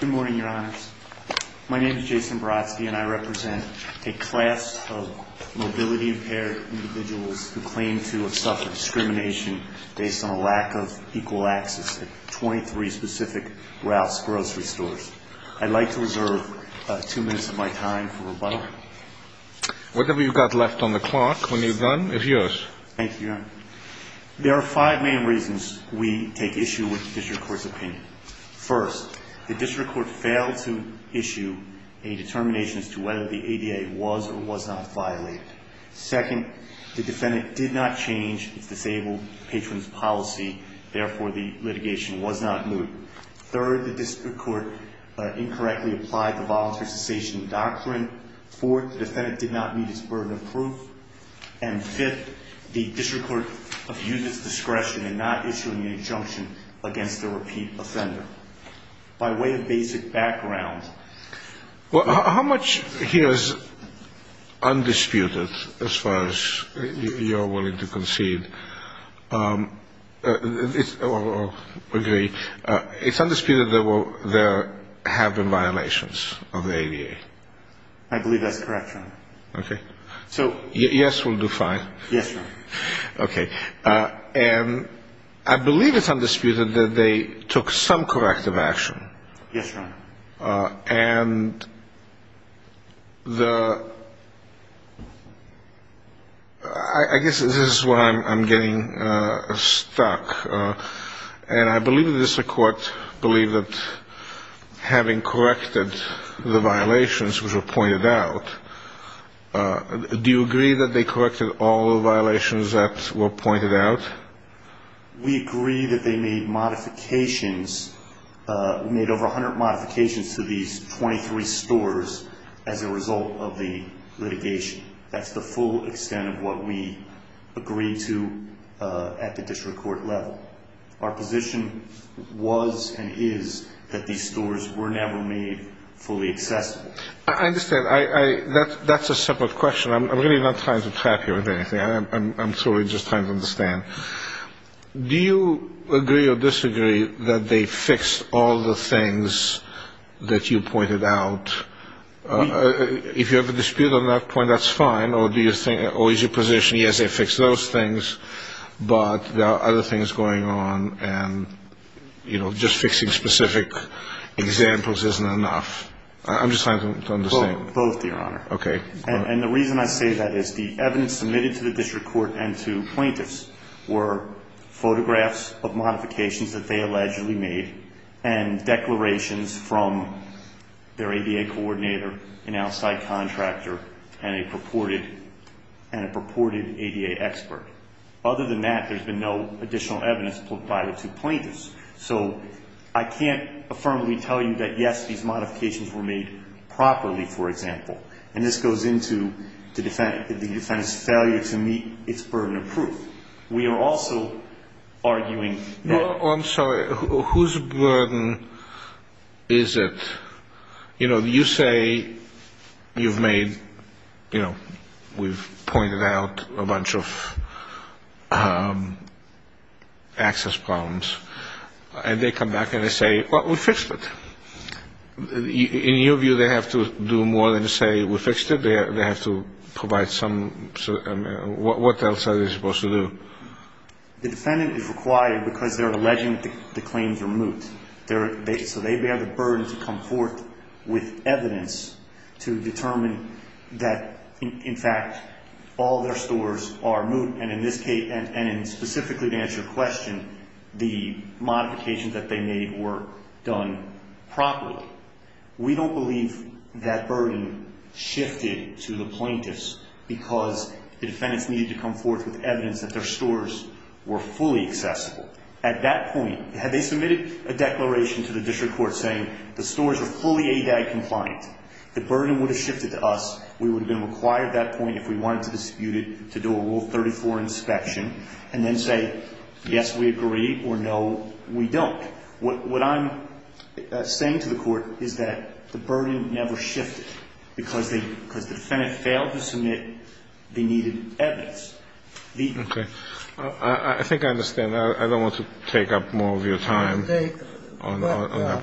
Good morning, Your Honors. My name is Jason Baratski, and I represent a class of mobility-impaired individuals who claim to have suffered discrimination based on a lack of equal access at 23 specific Ralphs Grocery Stores. I'd like to reserve two minutes of my time for rebuttal. Whatever you've got left on the clock, when you're done, is yours. Thank you, Your Honor. There are five main reasons we take issue with the District Court's opinion. First, the District Court failed to issue a determination as to whether the ADA was or was not violated. Second, the defendant did not change his disabled patron's policy. Therefore, the litigation was not moot. Third, the District Court incorrectly applied the voluntary cessation doctrine. Fourth, the defendant did not meet his burden of proof. And fifth, the District Court abused its discretion in not issuing an injunction against the repeat offender. By way of basic background... Well, how much here is undisputed as far as you're willing to concede? Or agree? It's undisputed that there have been violations of the ADA. I believe that's correct, Your Honor. Okay. So... Yes will do fine. Yes, Your Honor. Okay. And I believe it's undisputed that they took some corrective action. Yes, Your Honor. And the... I guess this is where I'm getting stuck. And I believe the District Court believed that having corrected the violations which were pointed out, do you agree that they corrected all the violations that were pointed out? We agree that they made modifications, made over 100 modifications to these 23 stores as a result of the litigation. That's the full extent of what we agreed to at the District Court level. Our position was and is that these stores were never made fully accessible. I understand. That's a separate question. I'm really not trying to trap you with anything. I'm truly just trying to understand. Do you agree or disagree that they fixed all the things that you pointed out? If you have a dispute on that point, that's fine. Or is your position, yes, they fixed those things, but there are other things going on and just fixing specific examples isn't enough? I'm just trying to understand. Both, Your Honor. Okay. And the reason I say that is the evidence submitted to the District Court and to plaintiffs were photographs of modifications that they allegedly made and declarations from their ADA coordinator, an outside contractor, and a purported ADA expert. Other than that, there's been no additional evidence put by the two plaintiffs. So I can't affirmably tell you that, yes, these modifications were made properly, for example. And this goes into the defendant's failure to meet its burden of proof. We are also arguing that Whose burden is it? You know, you say you've made, you know, we've pointed out a bunch of access problems. And they come back and they say, well, we fixed it. In your view, they have to do more than say we fixed it? They have to provide some, what else are they supposed to do? The defendant is required because they're alleging that the claims are moot. So they bear the burden to come forth with evidence to determine that, in fact, all their stores are moot. And in this case, and specifically to answer your question, the modifications that they made were done properly. We don't believe that burden shifted to the plaintiffs because the defendants needed to come forth with evidence that their stores were fully accessible. At that point, had they submitted a declaration to the district court saying the stores are fully ADA compliant, the burden would have shifted to us. We would have been required at that point, if we wanted to dispute it, to do a Rule 34 inspection and then say, yes, we agree, or no, we don't. But what I'm saying to the Court is that the burden never shifted because they – because the defendant failed to submit they needed evidence. The – Okay. I think I understand. I don't want to take up more of your time on that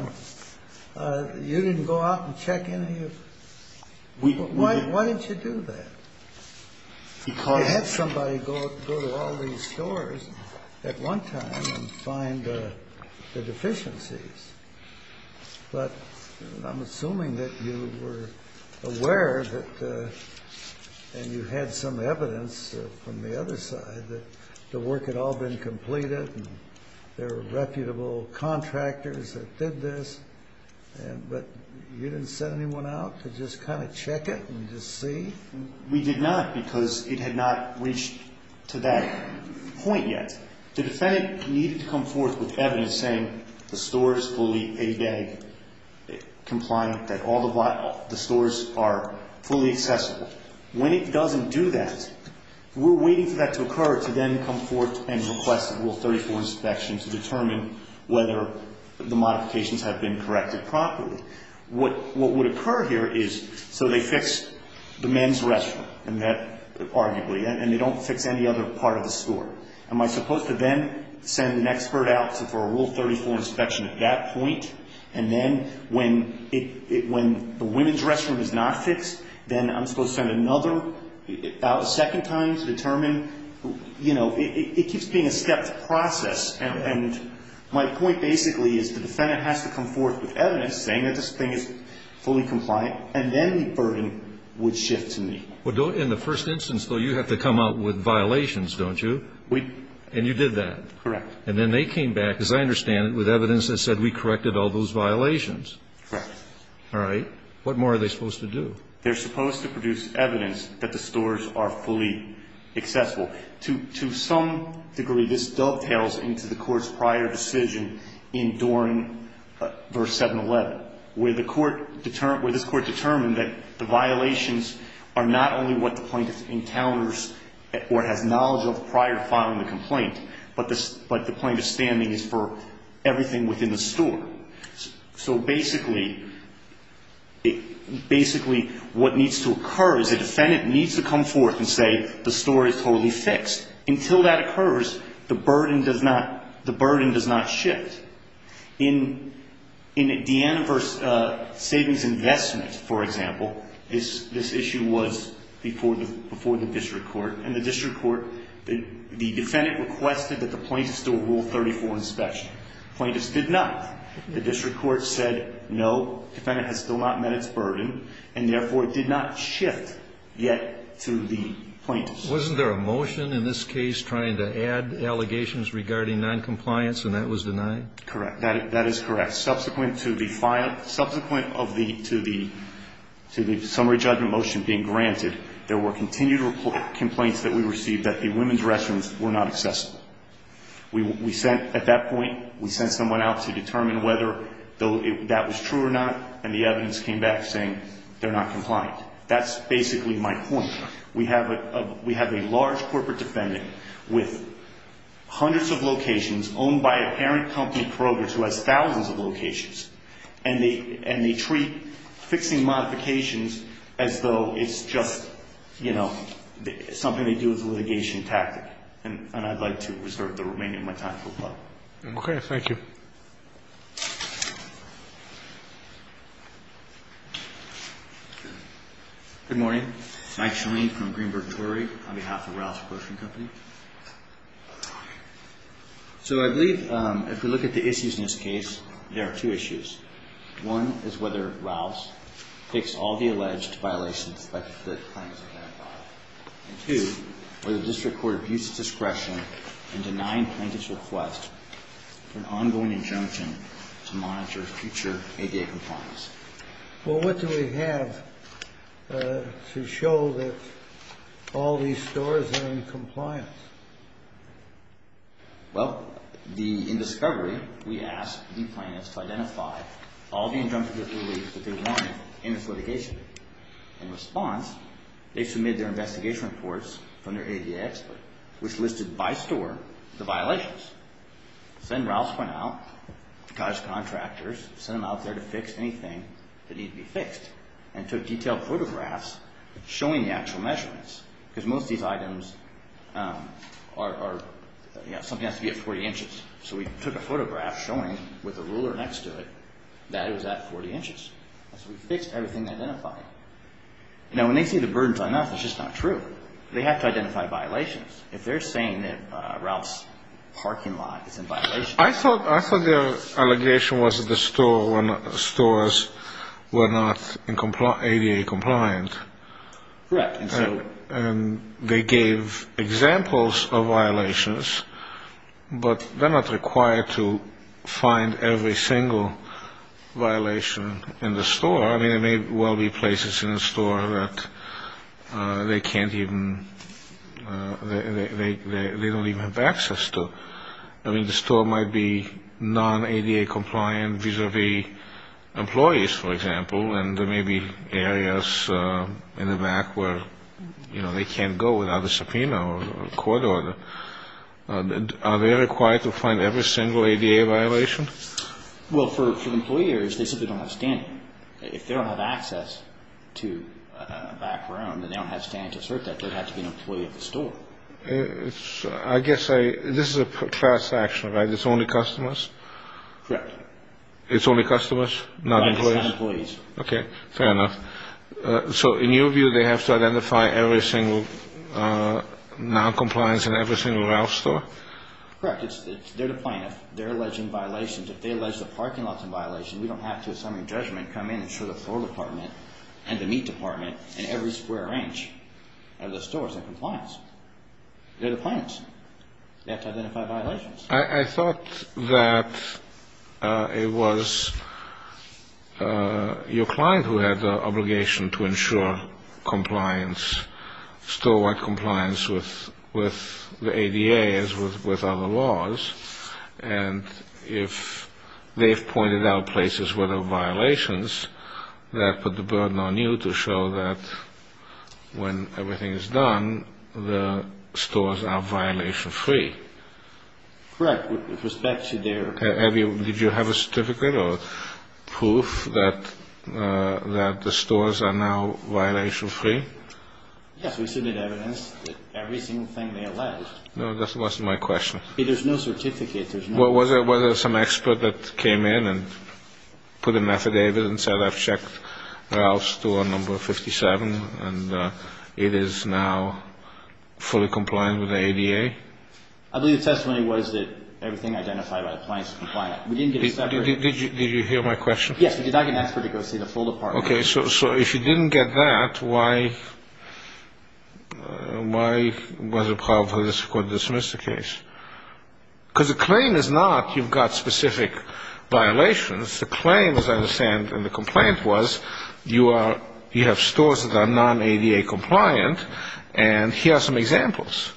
one. You didn't go out and check any of – why didn't you do that? Because – And find the deficiencies. But I'm assuming that you were aware that – and you had some evidence from the other side that the work had all been completed and there were reputable contractors that did this, but you didn't send anyone out to just kind of check it and just see? We did not because it had not reached to that point yet. The defendant needed to come forth with evidence saying the store is fully ADA compliant, that all the – the stores are fully accessible. When it doesn't do that, we're waiting for that to occur to then come forth and request a Rule 34 inspection to determine whether the modifications have been corrected properly. What would occur here is – so they fix the men's restroom and that – arguably. And they don't fix any other part of the store. Am I supposed to then send an expert out for a Rule 34 inspection at that point? And then when it – when the women's restroom is not fixed, then I'm supposed to send another out a second time to determine – you know, it keeps being a step process. And my point basically is the defendant has to come forth with evidence saying that this thing is fully compliant, and then the burden would shift to me. Well, don't – in the first instance, though, you have to come out with violations, don't you? We – And you did that? Correct. And then they came back, as I understand it, with evidence that said we corrected all those violations. Correct. All right. What more are they supposed to do? They're supposed to produce evidence that the stores are fully accessible. To some degree, this dovetails into the court's prior decision in Dorn, verse 711, where the court – where this court determined that the violations are not only what the plaintiff encounters or has knowledge of prior to filing the complaint, but the plaintiff's standing is for everything within the store. So basically – basically, what needs to occur is the defendant needs to come forth and say the store is totally fixed. Until that occurs, the burden does not – the burden does not shift. Wasn't there a motion in this case trying to add allegations regarding noncompliance, and that was denied? Correct. That is correct. Subsequent to the – subsequent of the – to the summary judgment motion being granted, there were continued complaints that we received that the women's restrooms were not accessible. We sent – at that point, we sent someone out to determine whether that was true or not, and the evidence came back saying they're not compliant. That's basically my point. We have a – we have a large corporate defendant with hundreds of locations owned by a parent company, Kroger's, who has thousands of locations, and they – and they treat fixing modifications as though it's just, you know, something they do as a litigation tactic. And I'd like to reserve the remaining of my time. Okay. Thank you. Thank you. Good morning. Mike Shoney from Greenberg Torey on behalf of Rouse Apportionment Company. So I believe if we look at the issues in this case, there are two issues. Well, what do we have to show that all these stores are in compliance? Well, the – in discovery, we asked the plaintiffs to identify all the injunctive reliefs that they wanted in this litigation. In response, they submitted their investigation reports from their ADA expert, which listed by store the violations. Then Rouse went out, got his contractors, sent them out there to fix anything that needed to be fixed, and took detailed photographs showing the actual measurements. Because most of these items are – something has to be at 40 inches. So we took a photograph showing with a ruler next to it that it was at 40 inches. So we fixed everything they identified. Now, when they see the burdens on us, it's just not true. They have to identify violations. If they're saying that Rouse's parking lot is in violation… I thought their allegation was that the stores were not ADA compliant. Correct. And they gave examples of violations, but they're not required to find every single violation in the store. I mean, there may well be places in the store that they can't even – they don't even have access to. I mean, the store might be non-ADA compliant vis-a-vis employees, for example, and there may be areas in the back where, you know, they can't go without a subpoena or a court order. Are they required to find every single ADA violation? Well, for employers, they simply don't have standing. If they don't have access to a back room and they don't have standing to assert that, they'd have to be an employee of the store. I guess I – this is a class action, right? It's only customers? Correct. It's only customers, not employees? Right, it's not employees. Okay, fair enough. So in your view, they have to identify every single non-compliance in every single Rouse store? Correct. They're the plaintiff. They're alleging violations. If they allege the parking lots in violation, we don't have to, in summary of judgment, come in and show the floor department and the meat department in every square inch of the stores in compliance. They're the plaintiffs. They have to identify violations. I thought that it was your client who had the obligation to ensure compliance, store-wide compliance with the ADA as with other laws, and if they've pointed out places where there are violations, that put the burden on you to show that when everything is done, the stores are violation-free. Correct. With respect to their – did you have a certificate or proof that the stores are now violation-free? Yes, we submitted evidence that every single thing they alleged. No, that wasn't my question. There's no certificate. Was there some expert that came in and put a methadone and said, I've checked Rouse store number 57, and it is now fully compliant with the ADA? I believe the testimony was that everything identified by the plaintiffs is compliant. We didn't get a separate – Did you hear my question? Yes, we did not get an expert to go see the floor department. Okay, so if you didn't get that, why was it a problem for the district court to dismiss the case? Because the claim is not you've got specific violations. The claim, as I understand, in the complaint was you have stores that are non-ADA compliant, and here are some examples.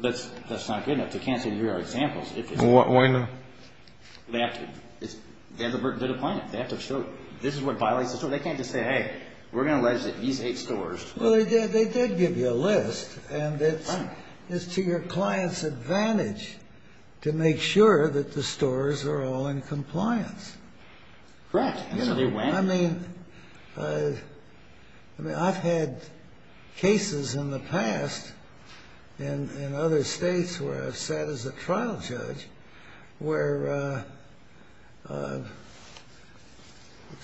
That's not good enough. They can't say here are examples. Why not? They have to – they're the plaintiff. They have to show this is what violates the store. They can't just say, hey, we're going to allege that these eight stores – Well, they did give you a list, and it's to your client's advantage to make sure that the stores are all in compliance. Correct. And so they went. I mean, I've had cases in the past in other states where I've sat as a trial judge where the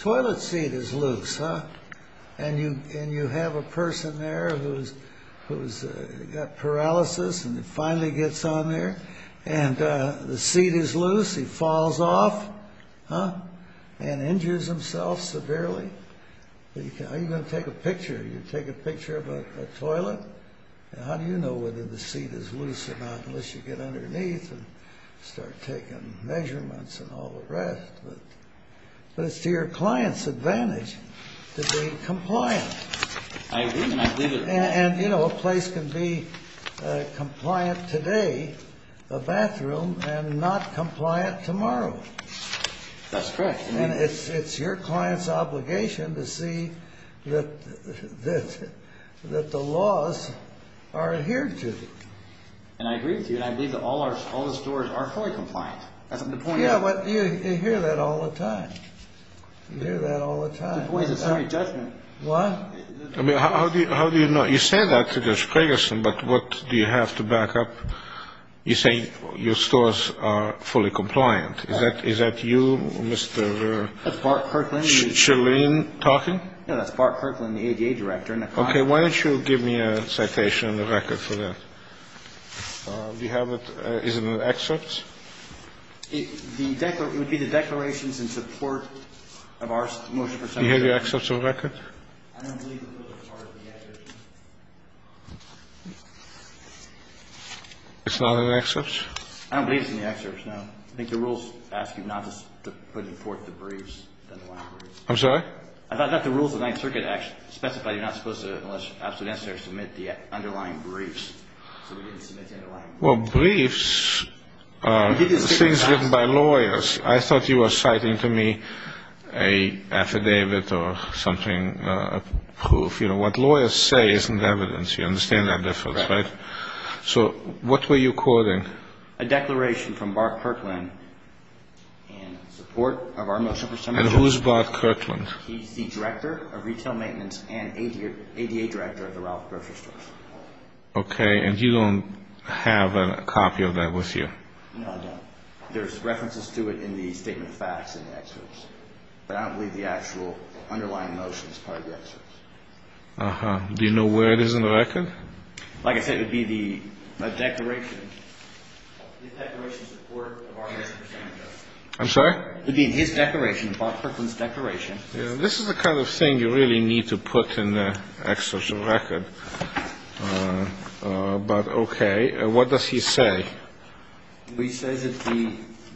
toilet seat is loose, and you have a person there who's got paralysis and it finally gets on there, and the seat is loose, he falls off and injures himself severely. How are you going to take a picture? Are you going to take a picture of a toilet? How do you know whether the seat is loose or not unless you get underneath and start taking measurements and all the rest? But it's to your client's advantage to be compliant. I agree with that. And, you know, a place can be compliant today, a bathroom, and not compliant tomorrow. That's correct. And it's your client's obligation to see that the laws are adhered to. And I agree with you, and I believe that all the stores are fully compliant. That's the point. Yeah, but you hear that all the time. You hear that all the time. The point is it's not a judgment. What? I mean, how do you know? You say that to Judge Ferguson, but what do you have to back up? You say your stores are fully compliant. Is that you, Mr. Shirlene, talking? No, that's Bart Kirkland, the ADA director. Okay. Why don't you give me a citation and a record for that? Do you have it? Is it an excerpt? It would be the declarations in support of our motion. Do you have your excerpts on record? It's not an excerpt? I don't believe it's an excerpt, no. I think the rules ask you not to put forth the briefs. I'm sorry? I thought the rules of the Ninth Circuit specified you're not supposed to, unless absolutely necessary, submit the underlying briefs. So we didn't submit the underlying briefs. Well, briefs are things written by lawyers. I thought you were citing to me an affidavit or something, a proof. You know, what lawyers say isn't evidence. You understand that difference, right? Right. So what were you quoting? A declaration from Bart Kirkland in support of our motion for submission. And who's Bart Kirkland? He's the director of retail maintenance and ADA director of the Ralph grocery store. Okay. And you don't have a copy of that with you? No, I don't. There's references to it in the statement of facts in the excerpt. But I don't believe the actual underlying motion is part of the excerpt. Uh-huh. Do you know where it is in the record? Like I said, it would be the declaration. The declaration in support of our motion for submission. I'm sorry? It would be in his declaration, Bart Kirkland's declaration. This is the kind of thing you really need to put in the excerpt of the record. But, okay. What does he say? He says that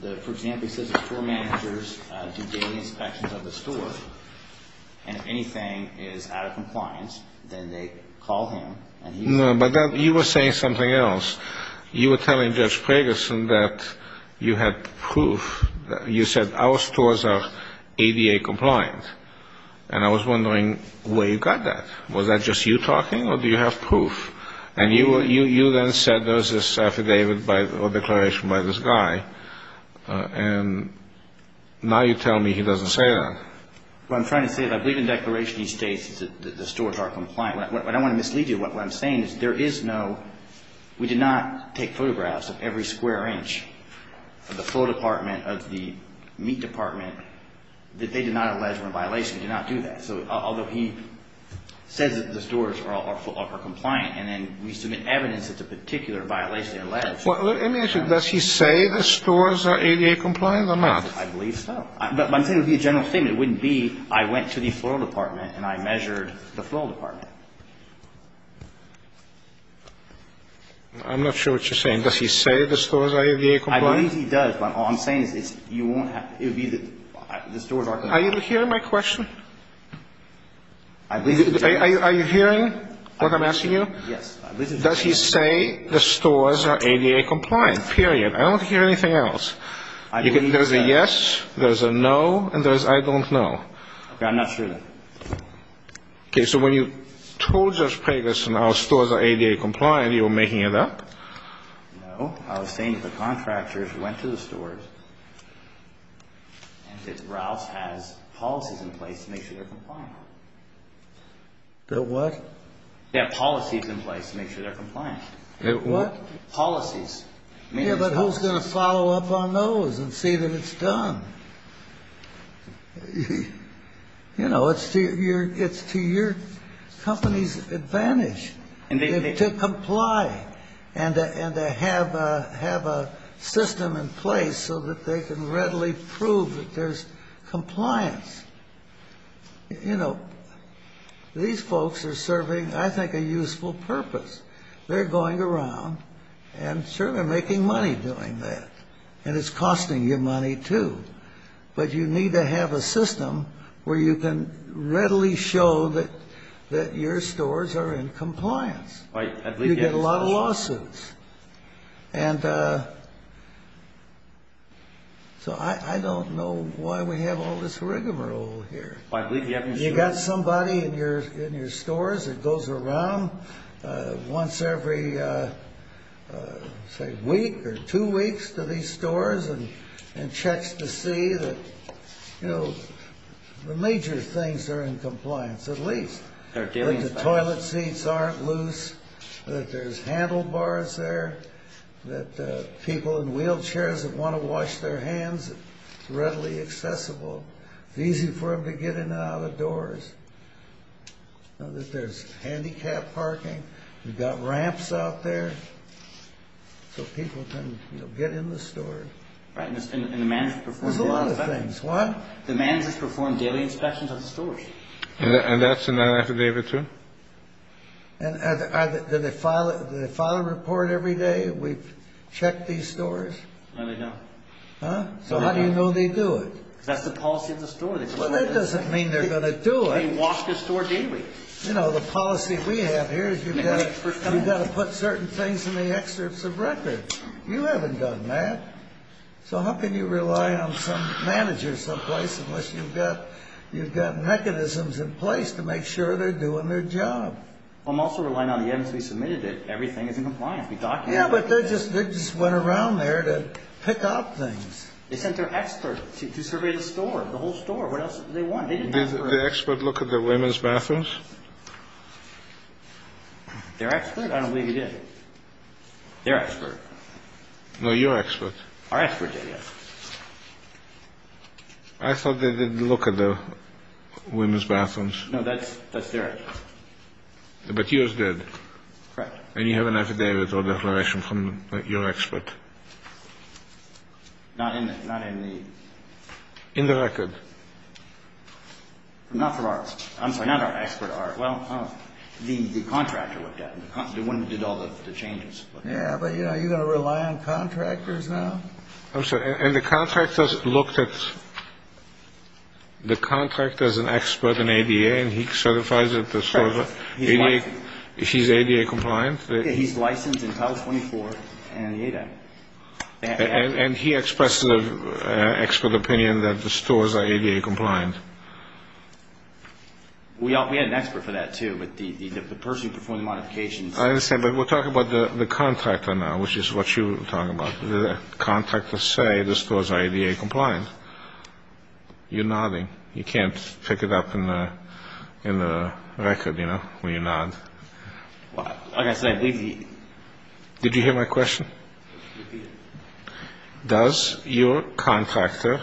the, for example, he says the store managers do daily inspections of the store. And if anything is out of compliance, then they call him. No, but you were saying something else. You were telling Judge Preggerson that you had proof. You said our stores are ADA compliant. And I was wondering where you got that. Was that just you talking or do you have proof? And you then said there was this affidavit or declaration by this guy. And now you tell me he doesn't say that. What I'm trying to say is I believe in declaration he states that the stores are compliant. What I want to mislead you, what I'm saying is there is no, we did not take photographs of every square inch of the floor department, of the meat department, that they did not allege were in violation. We did not do that. And so although he says that the stores are compliant, and then we submit evidence that's a particular violation of the letter. Well, let me ask you, does he say the stores are ADA compliant or not? I believe so. But I'm saying it would be a general statement. It wouldn't be I went to the floor department and I measured the floor department. I'm not sure what you're saying. Does he say the stores are ADA compliant? I believe he does. But all I'm saying is you won't have, it would be that the stores are compliant. Are you hearing my question? I believe he does. Are you hearing what I'm asking you? Yes. Does he say the stores are ADA compliant? Period. I don't hear anything else. There's a yes, there's a no, and there's I don't know. Okay. I'm not sure then. Okay. So when you told Judge Preggers the stores are ADA compliant, you were making it up? No. I was saying if the contractors went to the stores and said Rouse has policies in place to make sure they're compliant. The what? They have policies in place to make sure they're compliant. The what? Policies. Yeah, but who's going to follow up on those and see that it's done? You know, it's to your company's advantage to comply. And to have a system in place so that they can readily prove that there's compliance. You know, these folks are serving, I think, a useful purpose. They're going around and certainly making money doing that. And it's costing you money too. But you need to have a system where you can readily show that your stores are in compliance. Right. You get a lot of lawsuits. And so I don't know why we have all this rigmarole here. You've got somebody in your stores that goes around once every, say, week or two weeks to these stores and checks to see that, you know, the major things are in compliance at least. That the toilet seats aren't loose. That there's handlebars there. That people in wheelchairs that want to wash their hands are readily accessible. It's easy for them to get in and out of the doors. That there's handicap parking. You've got ramps out there so people can, you know, get in the store. Right. And the managers perform daily inspections. There's a lot of things. What? The managers perform daily inspections of the stores. And that's an affidavit too? And do they file a report every day? We've checked these stores? No, they don't. Huh? So how do you know they do it? Because that's the policy of the store. Well, that doesn't mean they're going to do it. They wash the store daily. You know, the policy we have here is you've got to put certain things in the excerpts of record. You haven't done that. So how can you rely on some manager someplace unless you've got mechanisms in place to make sure they're doing their job? I'm also relying on the evidence we submitted that everything is in compliance. We documented it. Yeah, but they just went around there to pick up things. They sent their expert to survey the store, the whole store. What else did they want? Did the expert look at the women's bathrooms? Their expert? I don't believe he did. Their expert. No, your expert. Our expert did, yes. I thought they didn't look at the women's bathrooms. No, that's their expert. But yours did. Correct. And you have an affidavit or declaration from your expert. Not in the... In the record. Not from our... I'm sorry, not our expert. Well, the contractor looked at it. The one who did all the changes. Yeah, but, you know, are you going to rely on contractors now? I'm sorry, and the contractor looked at the contract as an expert in ADA and he certifies that the store is ADA compliant? He's licensed in Title 24 and the ADA. And he expressed an expert opinion that the stores are ADA compliant? We had an expert for that, too, but the person who performed the modifications... I understand, but we're talking about the contractor now, which is what you were talking about. Did the contractor say the stores are ADA compliant? You're nodding. You can't pick it up in the record, you know, when you nod. Like I said, these... Did you hear my question? Does your contractor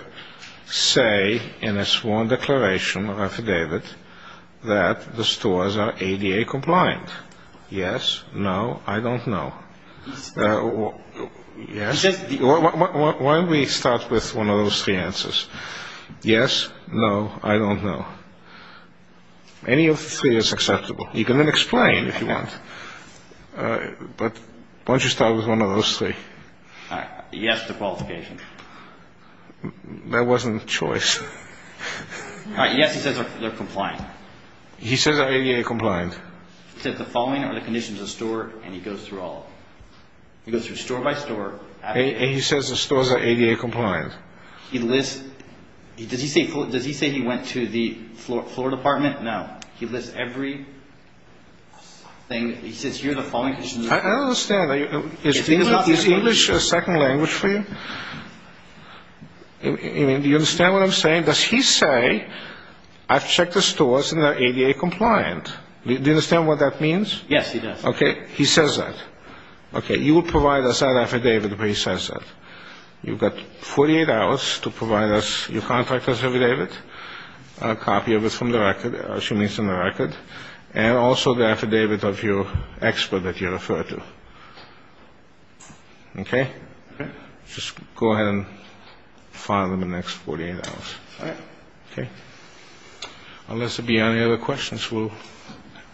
say in his sworn declaration or affidavit that the stores are ADA compliant? Yes, no, I don't know. He says... Why don't we start with one of those three answers? Yes, no, I don't know. Any of the three is acceptable. You can then explain if you want. But why don't you start with one of those three? Yes to qualification. That wasn't choice. Yes, he says they're compliant. He says they're ADA compliant. He says the following are the conditions of the store, and he goes through all of them. He goes through store by store. And he says the stores are ADA compliant. He lists... Does he say he went to the floor department? No. He lists every thing. He says here are the following conditions. I don't understand. Is English a second language for you? Do you understand what I'm saying? Does he say, I've checked the stores and they're ADA compliant? Do you understand what that means? Yes, he does. Okay, he says that. Okay, you will provide us that affidavit where he says that. You've got 48 hours to provide us, your contractor's affidavit, a copy of it from the record, assuming it's in the record, and also the affidavit of your expert that you refer to. Okay? Okay. Just go ahead and file them the next 48 hours. All right. Okay? Unless there be any other questions, we'll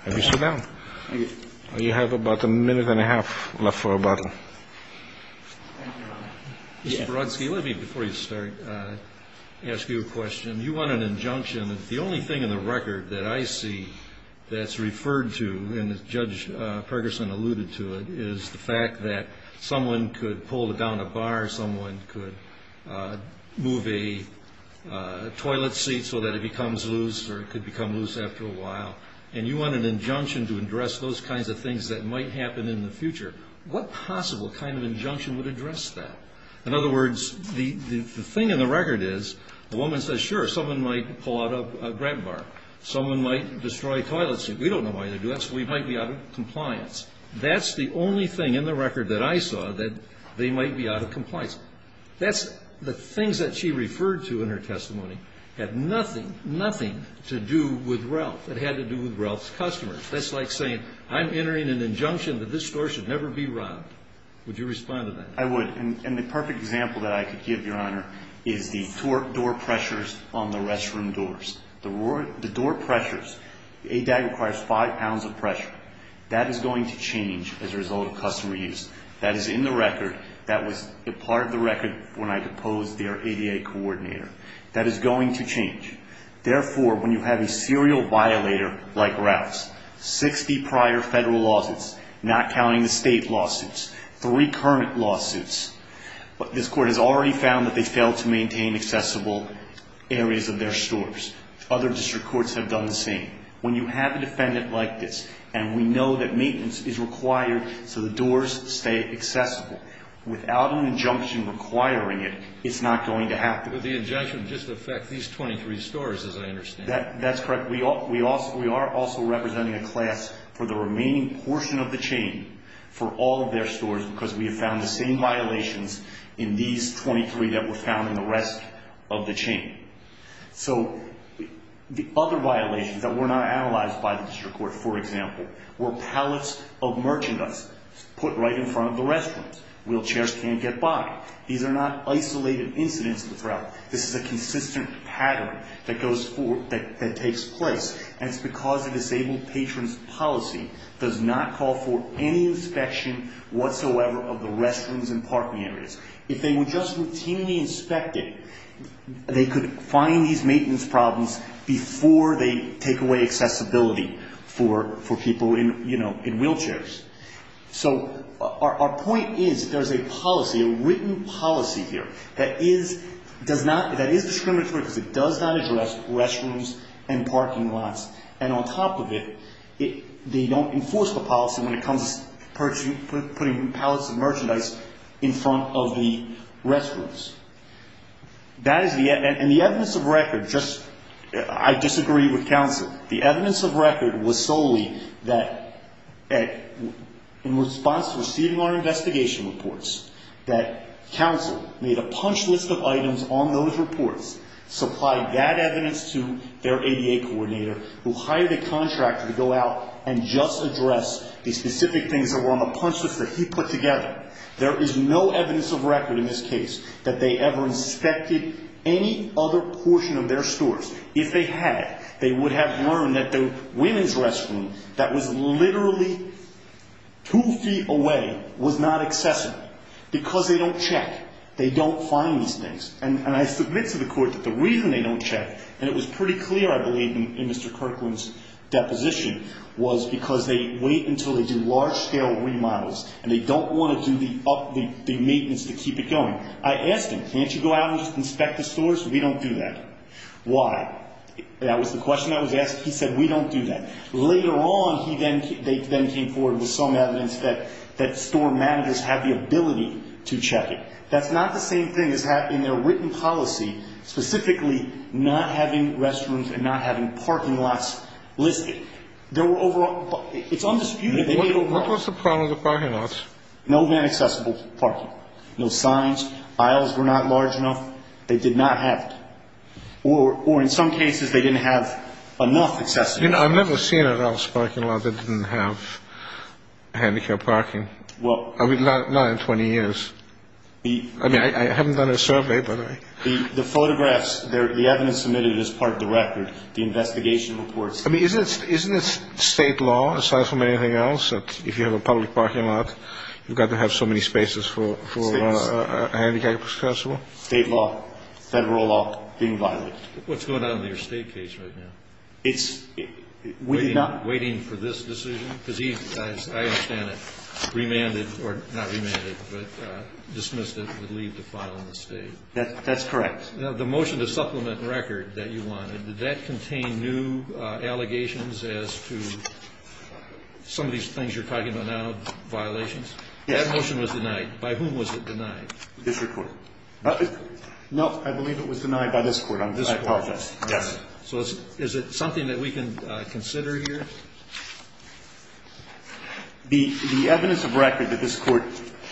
have you sit down. Thank you. You have about a minute and a half left for rebuttal. Mr. Borodsky, let me, before you start, ask you a question. You want an injunction. The only thing in the record that I see that's referred to, and Judge Pergerson alluded to it, is the fact that someone could pull down a bar, someone could move a toilet seat so that it becomes loose or it could become loose after a while, and you want an injunction to address those kinds of things that might happen in the future. What possible kind of injunction would address that? In other words, the thing in the record is, the woman says, sure, someone might pull out a grab bar. Someone might destroy a toilet seat. We don't know why they do that, so we might be out of compliance. That's the only thing in the record that I saw that they might be out of compliance. That's the things that she referred to in her testimony had nothing, nothing to do with Ralph. It had to do with Ralph's customers. That's like saying, I'm entering an injunction that this store should never be robbed. Would you respond to that? I would. And the perfect example that I could give, Your Honor, is the door pressures on the restroom doors. The door pressures, ADAG requires five pounds of pressure. That is going to change as a result of customer use. That is in the record. That was a part of the record when I deposed their ADA coordinator. That is going to change. Therefore, when you have a serial violator like Ralph's, 60 prior federal lawsuits, not counting the state lawsuits, three current lawsuits, this Court has already found that they fail to maintain accessible areas of their stores. Other district courts have done the same. When you have a defendant like this, and we know that maintenance is required so the doors stay accessible, without an injunction requiring it, it's not going to happen. But the injunction would just affect these 23 stores, as I understand. That's correct. We are also representing a class for the remaining portion of the chain for all of their stores because we have found the same violations in these 23 that were found in the rest of the chain. So the other violations that were not analyzed by the district court, for example, were pallets of merchandise put right in front of the restrooms. Wheelchairs can't get by. These are not isolated incidents of the threat. This is a consistent pattern that takes place, and it's because the disabled patron's policy does not call for any inspection whatsoever of the restrooms and parking areas. If they would just routinely inspect it, they could find these maintenance problems before they take away accessibility for people in wheelchairs. So our point is there's a policy, a written policy here, that is discriminatory because it does not address restrooms and parking lots. And on top of it, they don't enforce the policy when it comes to putting pallets of merchandise in front of the restrooms. And the evidence of record, I disagree with counsel. The evidence of record was solely that in response to receiving our investigation reports that counsel made a punch list of items on those reports, supplied that evidence to their ADA coordinator, who hired a contractor to go out and just address the specific things that were on the punch list that he put together. There is no evidence of record in this case that they ever inspected any other portion of their stores. If they had, they would have learned that the women's restroom that was literally two feet away was not accessible because they don't check. They don't find these things. And I submit to the court that the reason they don't check, and it was pretty clear, I believe, in Mr. Kirkland's deposition, was because they wait until they do large-scale remodels and they don't want to do the maintenance to keep it going. I asked him, can't you go out and just inspect the stores? We don't do that. Why? That was the question that was asked. He said, we don't do that. Later on, they then came forward with some evidence that store managers have the ability to check it. That's not the same thing as having their written policy, specifically not having restrooms and not having parking lots listed. There were overall, it's undisputed. What was the problem with the parking lots? No man-accessible parking. No signs. Aisles were not large enough. They did not have it. Or in some cases, they didn't have enough accessibility. I've never seen a house parking lot that didn't have handicap parking. Not in 20 years. I mean, I haven't done a survey, but I... The photographs, the evidence submitted is part of the record. The investigation reports. I mean, isn't it state law, aside from anything else, that if you have a public parking lot, you've got to have so many spaces for a handicap accessible? State law, federal law being violated. What's going on in your state case right now? It's... Waiting for this decision? Because he, as I understand it, remanded, or not remanded, but dismissed it with leave to file in the state. That's correct. Now, the motion to supplement the record that you wanted, did that contain new allegations as to some of these things you're talking about now, violations? Yes. That motion was denied. By whom was it denied? District Court. No, I believe it was denied by this Court. I apologize. Yes. So is it something that we can consider here? The evidence of record that this Court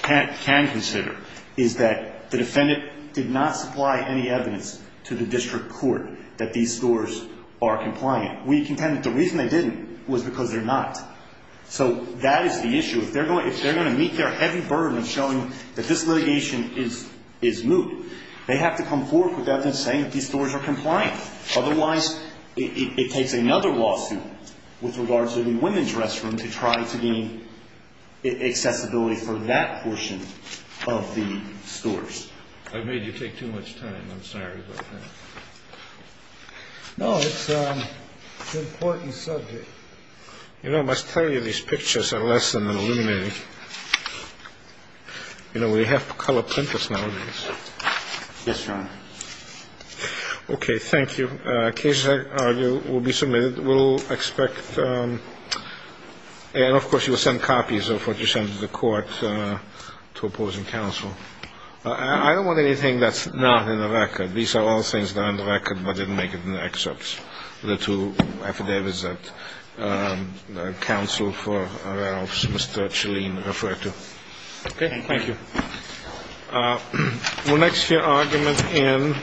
can consider is that the defendant did not supply any evidence to the District Court that these stores are compliant. We contend that the reason they didn't was because they're not. So that is the issue. If they're going to meet their heavy burden of showing that this litigation is moot, they have to come forward with evidence saying that these stores are compliant. Otherwise, it takes another lawsuit with regards to the women's restroom to try to gain accessibility for that portion of the stores. I've made you take too much time. I'm sorry about that. No, it's an important subject. You know, I must tell you these pictures are less than illuminating. You know, we have to color print this nowadays. Yes, Your Honor. Okay. Thank you. Cases, I argue, will be submitted. We'll expect and, of course, you will send copies of what you send to the Court to opposing counsel. I don't want anything that's not in the record. These are all things that are in the record but didn't make it in the excerpts, the two affidavits that counsel for our office, Mr. Chalin, referred to. Okay. Thank you. We'll next hear argument in.